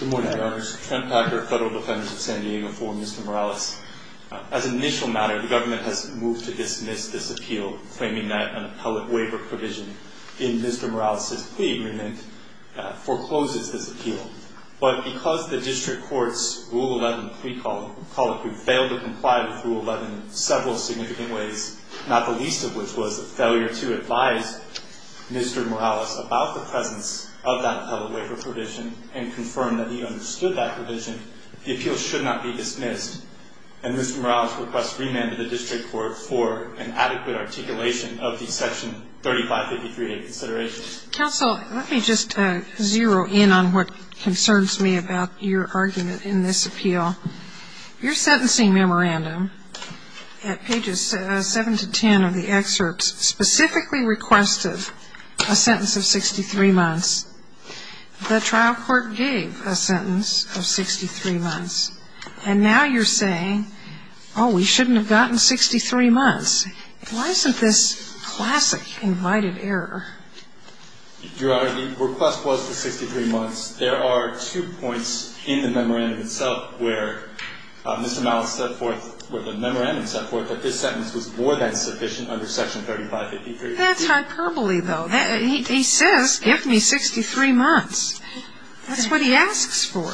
Good morning, Your Honors. Trent Packer, Federal Defendant of San Diego v. Mr. Morales. As an initial matter, the government has moved to dismiss this appeal, claiming that an appellate waiver provision in Mr. Morales' plea agreement forecloses this appeal. But because the district court's Rule 11 plea colloquy failed to comply with Rule 11 in several significant ways, not the least of which was a failure to advise Mr. Morales about the presence of that appellate waiver provision and confirm that he understood that provision, the appeal should not be dismissed. And Mr. Morales requests remand to the district court for an adequate articulation of the Section 3553A consideration. Counsel, let me just zero in on what concerns me about your argument in this appeal. Your sentencing memorandum at pages 7 to 10 of the excerpts specifically requested a sentence of 63 months. The trial court gave a sentence of 63 months. And now you're saying, oh, we shouldn't have gotten 63 months. Why isn't this classic invited error? Your Honor, the request was for 63 months. There are two points in the memorandum itself where Mr. Morales set forth, where the memorandum set forth that this sentence was more than sufficient under Section 3553. That's hyperbole, though. He says, give me 63 months. That's what he asks for.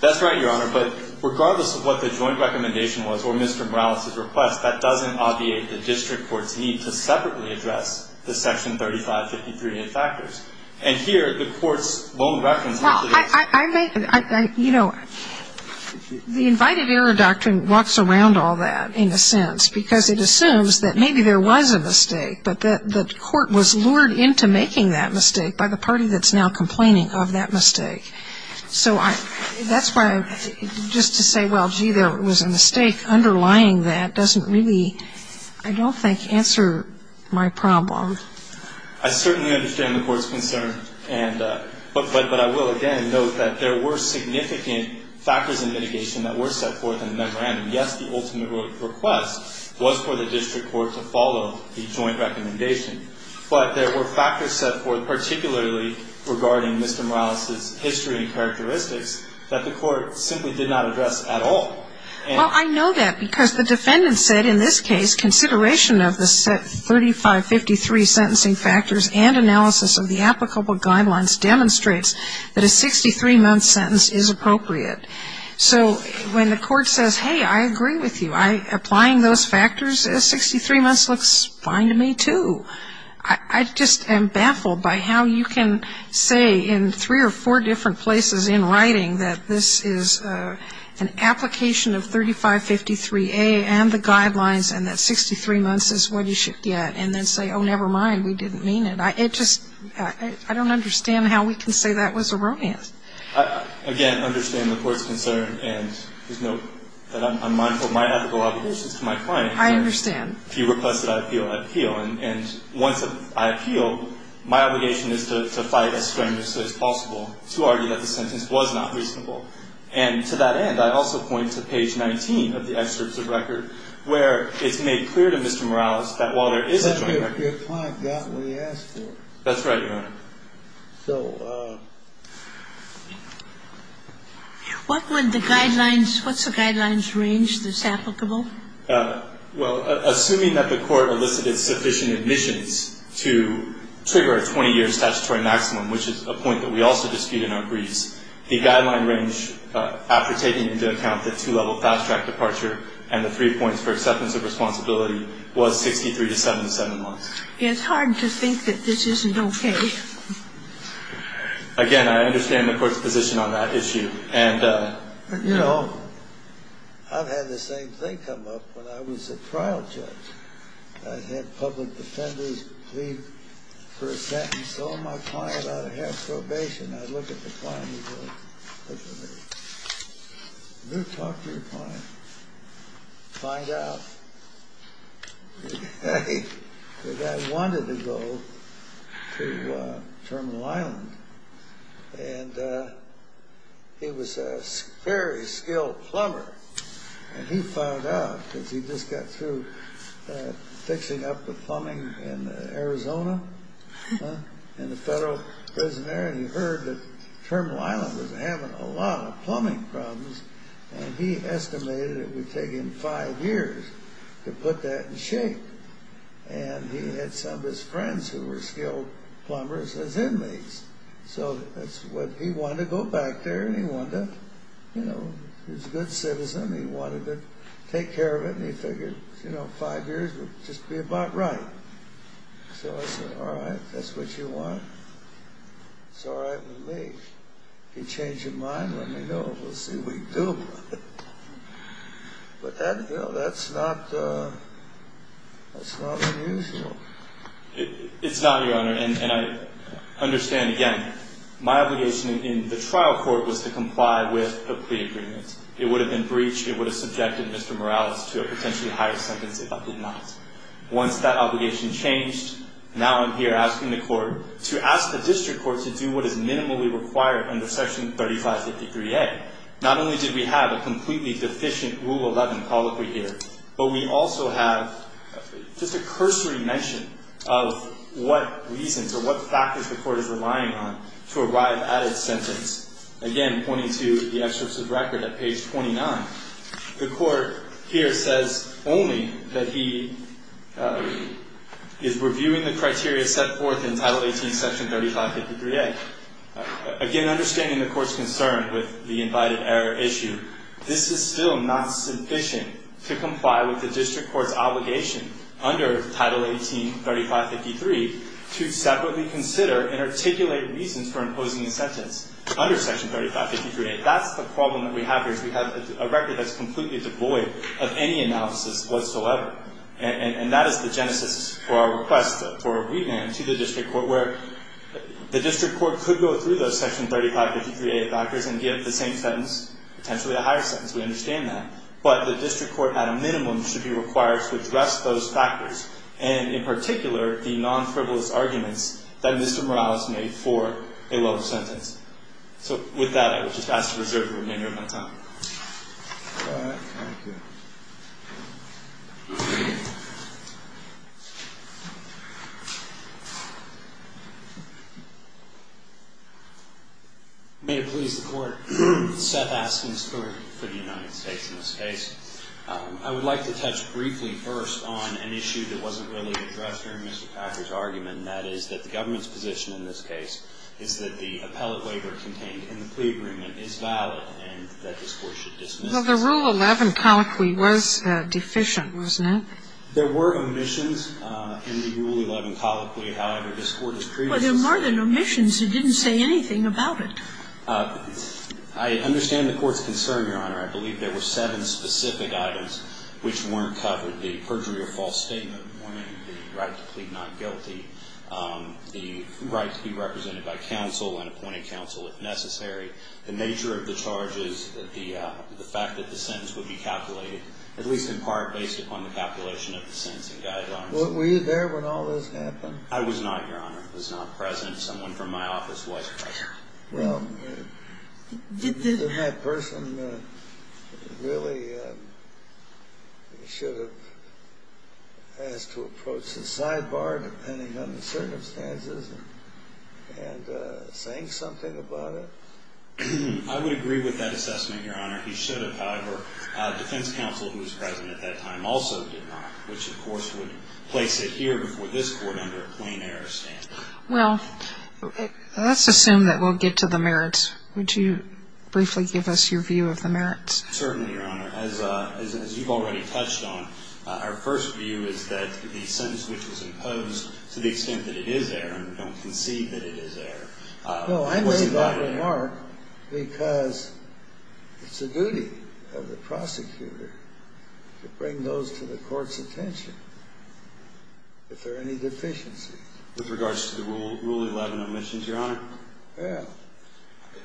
That's right, Your Honor. But regardless of what the joint recommendation was or Mr. Morales' request, that doesn't obviate the district court's need to separately address the Section 3553A factors. And here, the court's lone reference is that it's... Well, I make, you know, the invited error doctrine walks around all that, in a sense, because it assumes that maybe there was a mistake, but that the court was lured into making that mistake by the party that's now complaining of that mistake. So that's why, just to say, well, gee, there was a mistake, underlying that doesn't really, I don't think, answer my problem. I certainly understand the court's concern, but I will again note that there were significant factors in mitigation that were set forth in the memorandum. Yes, the ultimate request was for the district court to follow the joint recommendation, but there were factors set forth, particularly regarding Mr. Morales' history and characteristics, that the court simply did not address at all. Well, I know that because the defendant said, in this case, consideration of the Set 3553 sentencing factors and analysis of the applicable guidelines demonstrates that a 63-month sentence is appropriate. So when the court says, hey, I agree with you, applying those factors, 63 months looks fine to me, too. I just am baffled by how you can say in three or four different places in writing that this is an application of 3553A and the guidelines and that 63 months is what you should get, and then say, oh, never mind, we didn't mean it. It just, I don't understand how we can say that was erroneous. Again, I understand the court's concern, and there's no, I'm mindful of my ethical obligations to my client. I understand. If you request that I appeal, I appeal. And once I appeal, my obligation is to fight as strenuously as possible to argue that the sentence was not reasonable. And to that end, I also point to page 19 of the excerpts of record where it's made clear to Mr. Morales that while there is a joint record. But your client got what he asked for. That's right, Your Honor. So. What would the guidelines, what's the guidelines range that's applicable? Well, assuming that the court elicited sufficient admissions to trigger a 20-year statutory maximum, which is a point that we also dispute in our briefs, the guideline range, after taking into account the two-level fast-track departure and the three points for acceptance of responsibility, was 63 to 77 months. It's hard to think that this isn't okay. Again, I understand the court's position on that issue. And, you know, I've had the same thing come up when I was a trial judge. I had public defendants plead for a sentence. So my client ought to have probation. I look at the client and go, look at me. Talk to your client. Find out. The guy wanted to go to Terminal Island. And he was a very skilled plumber. And he found out because he just got through fixing up the plumbing in Arizona, in the federal prison there. And he heard that Terminal Island was having a lot of plumbing problems. And he estimated it would take him five years to put that in shape. And he had some of his friends who were skilled plumbers as inmates. So he wanted to go back there and he wanted to, you know, he was a good citizen. He wanted to take care of it. And he figured, you know, five years would just be about right. So I said, all right, if that's what you want, it's all right with me. If you change your mind, let me know. We'll see what you do. But, you know, that's not unusual. It's not, Your Honor. And I understand, again, my obligation in the trial court was to comply with a plea agreement. It would have been breached. It would have subjected Mr. Morales to a potentially higher sentence if I did not. Once that obligation changed, now I'm here asking the court to ask the district court to do what is minimally required under Section 3553A. Not only did we have a completely deficient Rule 11 colloquy here, but we also have just a cursory mention of what reasons or what factors the court is relying on to arrive at its sentence. Again, pointing to the exercise record at page 29. The court here says only that he is reviewing the criteria set forth in Title 18, Section 3553A. Again, understanding the court's concern with the invited error issue, this is still not sufficient to comply with the district court's obligation under Title 18, 3553, to separately consider and articulate reasons for imposing a sentence under Section 3553A. If that's the problem that we have here is we have a record that's completely devoid of any analysis whatsoever. And that is the genesis for our request for a revamp to the district court where the district court could go through those Section 3553A factors and give the same sentence, potentially a higher sentence. We understand that. But the district court, at a minimum, should be required to address those factors, and in particular, the non-frivolous arguments that Mr. Morales made for a lower sentence. So with that, I would just ask to reserve the remainder of my time. All right. Thank you. May it please the Court. Seth Askins for the United States in this case. I would like to touch briefly first on an issue that wasn't really addressed here in Mr. Packer's argument, and that is that the government's position in this case is that the appellate waiver contained in the plea agreement is valid and that this Court should dismiss it. Well, the Rule 11 colloquy was deficient, wasn't it? There were omissions in the Rule 11 colloquy. However, this Court has previously said that. Well, there are more than omissions. It didn't say anything about it. I understand the Court's concern, Your Honor. I believe there were seven specific items which weren't covered, the perjury or false statement, the right to plead not guilty, the right to be represented by counsel and appointed counsel if necessary, the nature of the charges, the fact that the sentence would be calculated, at least in part based upon the calculation of the sentencing guidelines. Were you there when all this happened? I was not, Your Honor. I was not present. Someone from my office was present. Well, didn't that person really should have asked to approach the sidebar depending on the circumstances and saying something about it? I would agree with that assessment, Your Honor. He should have. However, defense counsel who was present at that time also did not, which of course would place it here before this Court under a plain error standard. Well, let's assume that we'll get to the merits. Would you briefly give us your view of the merits? Certainly, Your Honor. As you've already touched on, our first view is that the sentence which was imposed, to the extent that it is there and we don't concede that it is there. Well, I made that remark because it's the duty of the prosecutor to bring those to the Court's attention if there are any deficiencies. With regards to the Rule 11 omissions, Your Honor? Yeah.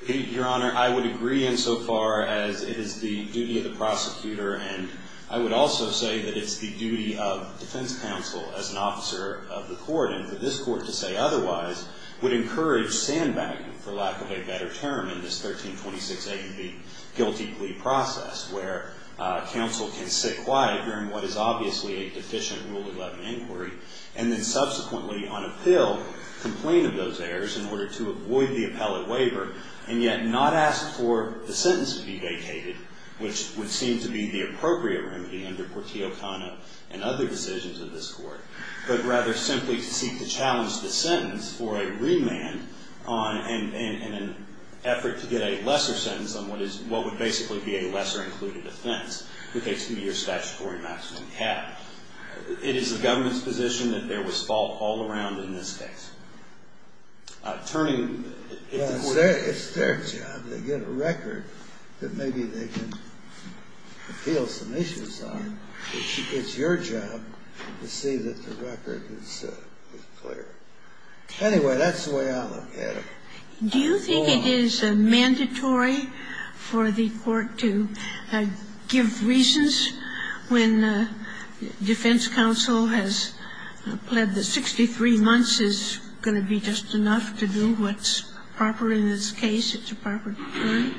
Your Honor, I would agree insofar as it is the duty of the prosecutor and I would also say that it's the duty of defense counsel as an officer of the Court and for this Court to say otherwise would encourage sandbagging, for lack of a better term, in this 1326A to be guilty plea process where counsel can sit quiet during what is obviously a deficient Rule 11 inquiry and then subsequently on appeal complain of those errors in order to avoid the appellate waiver and yet not ask for the sentence to be vacated, which would seem to be the appropriate remedy under Portillo-Cano and other decisions of this Court, but rather simply to seek to challenge the sentence for a remand in an effort to get a lesser sentence on what would basically be a lesser included offense with a two-year statutory maximum cap. It is the government's position that there was fault all around in this case. Attorney? It's their job. They get a record that maybe they can appeal some issues on. It's your job to see that the record is clear. Anyway, that's the way I look at it. Do you think it is mandatory for the Court to give reasons when defense counsel has pled that 63 months is going to be just enough to do what's proper in this case, it's a proper decree?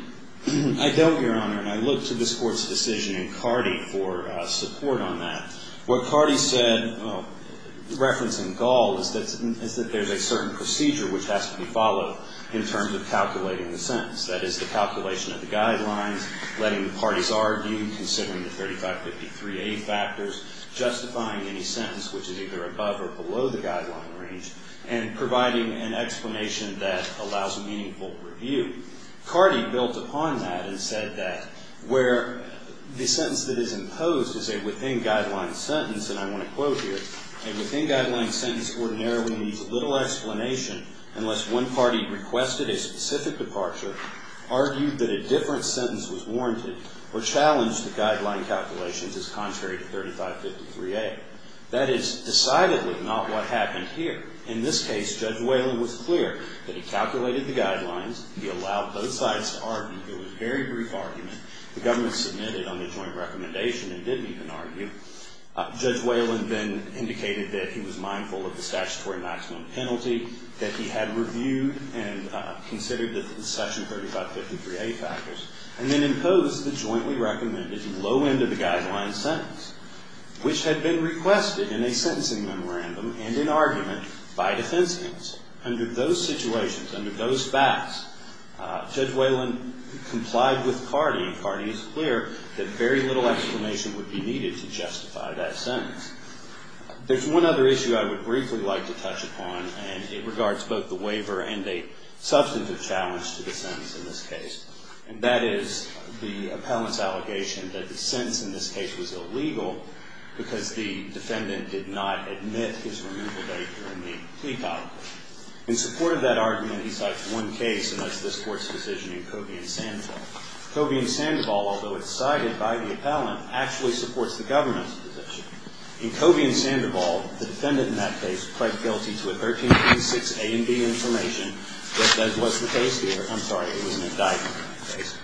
I don't, Your Honor. And I look to this Court's decision in Cardi for support on that. What Cardi said referencing Gall is that there's a certain procedure which has to be followed in terms of calculating the sentence. That is the calculation of the guidelines, letting the parties argue, considering the 3553A factors, justifying any sentence which is either above or below the guideline range, and providing an explanation that allows meaningful review. Cardi built upon that and said that where the sentence that is imposed is a within-guideline sentence, and I want to quote here, a within-guideline sentence ordinarily needs little explanation unless one party requested a specific departure, argued that a different sentence was warranted, or challenged the guideline calculations as contrary to 3553A. That is decidedly not what happened here. In this case, Judge Whalen was clear that he calculated the guidelines, he allowed both sides to argue. It was a very brief argument. The government submitted on the joint recommendation and didn't even argue. Judge Whalen then indicated that he was mindful of the statutory maximum penalty, that he had reviewed and considered the section 3553A factors, and then imposed the jointly recommended low end of the guideline sentence, which had been requested in a sentencing memorandum and in argument by defense counsel. Under those situations, under those facts, Judge Whalen complied with Cardi, and Cardi is clear that very little explanation would be needed to justify that sentence. There's one other issue I would briefly like to touch upon, and it regards both the waiver and a substantive challenge to the sentence in this case, and that is the appellant's allegation that the sentence in this case was illegal because the defendant did not admit his removal date during the plea trial. In support of that argument, he cites one case, and that's this Court's decision in Cobie and Sandoval. Cobie and Sandoval, although it's cited by the appellant, actually supports the government's position. In Cobie and Sandoval, the defendant in that case pled guilty to a 1336A and B information. That was the case there. I'm sorry. It was an indictment case.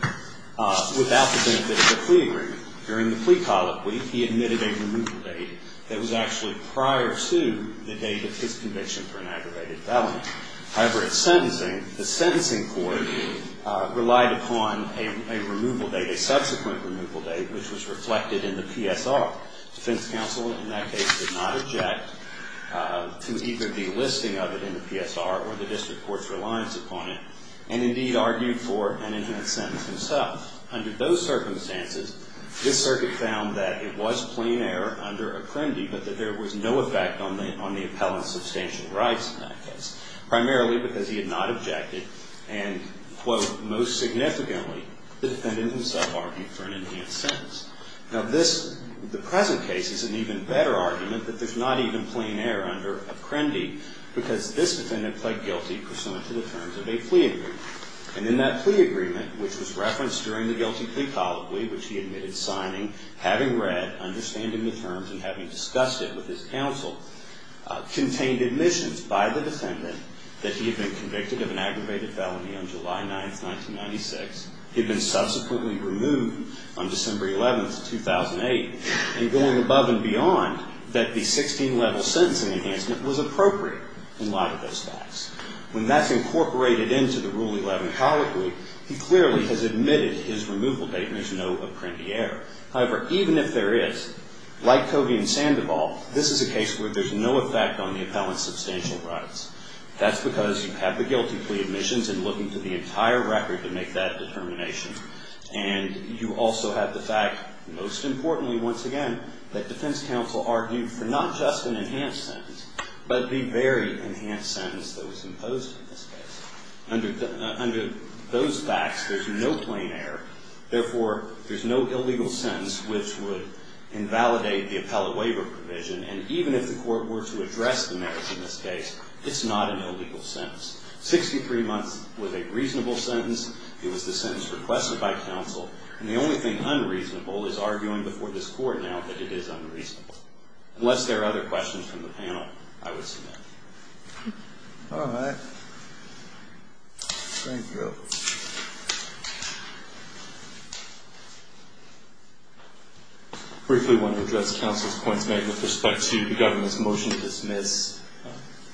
Without the benefit of the plea agreement, during the plea colloquy, he admitted a removal date that was actually prior to the date of his conviction for an aggravated felony. However, in sentencing, the sentencing court relied upon a removal date, a subsequent removal date, which was reflected in the PSR. Defense counsel in that case did not object to either the listing of it in the PSR or the district court's reliance upon it, and indeed argued for an enhanced sentence himself. Under those circumstances, this circuit found that it was plain error under Apprendi, but that there was no effect on the appellant's substantial rights in that case, primarily because he had not objected and, quote, most significantly, the defendant himself argued for an enhanced sentence. Now, this, the present case is an even better argument that there's not even plain error under Apprendi because this defendant pled guilty pursuant to the terms of a plea agreement. And in that plea agreement, which was referenced during the guilty plea colloquy, which he admitted signing, having read, understanding the terms, and having discussed it with his counsel, contained admissions by the defendant that he had been convicted of an aggravated felony on July 9, 1996. He had been subsequently removed on December 11, 2008, and going above and beyond that the 16-level sentencing enhancement was appropriate in light of those facts. When that's incorporated into the Rule 11 colloquy, he clearly has admitted his removal date and there's no Apprendi error. However, even if there is, like Covey and Sandoval, this is a case where there's no effect on the appellant's substantial rights. That's because you have the guilty plea admissions and looking through the entire record to make that determination. And you also have the fact, most importantly once again, that defense counsel argued for not just an enhanced sentence, but the very enhanced sentence that was imposed in this case. Under those facts, there's no plain error. Therefore, there's no illegal sentence which would invalidate the appellate waiver provision. And even if the court were to address the merits in this case, it's not an illegal sentence. 63 months was a reasonable sentence. It was the sentence requested by counsel. And the only thing unreasonable is arguing before this court now that it is unreasonable. Unless there are other questions from the panel, I would submit. All right. Thank you. Briefly, I want to address counsel's points made with respect to the government's motion to dismiss.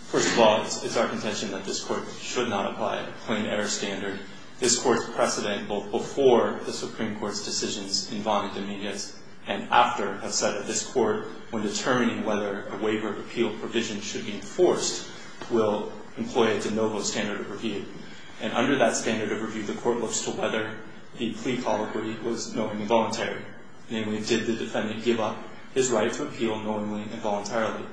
First of all, it's our contention that this court should not apply a plain error standard if this court's precedent, both before the Supreme Court's decisions in Vonn and Dominguez and after have said that this court, when determining whether a waiver of appeal provision should be enforced, will employ a de novo standard of review. And under that standard of review, the court looks to whether the plea colloquy was knowingly voluntary. Namely, did the defendant give up his right to appeal knowingly and voluntarily?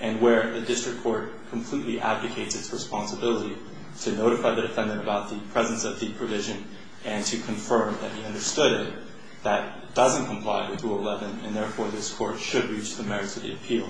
And where the district court completely abdicates its responsibility to notify the defendant about the presence of the provision and to confirm that he understood it, that doesn't comply with Rule 11, and therefore this court should reach the merits of the appeal.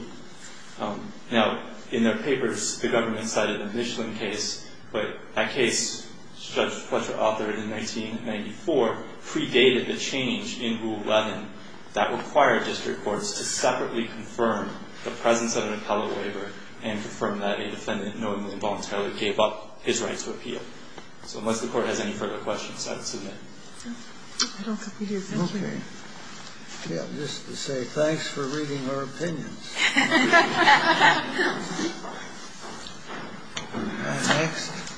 Now, in their papers, the government cited a Michelin case, but that case, Judge Fletcher authored in 1994, predated the change in Rule 11 that required district courts to separately confirm the presence of an appellate waiver and confirm that a defendant knowingly and voluntarily gave up his right to appeal. So unless the Court has any further questions, I would submit. I don't think we do. Thank you. Okay. Yeah. Just to say thanks for reading our opinions.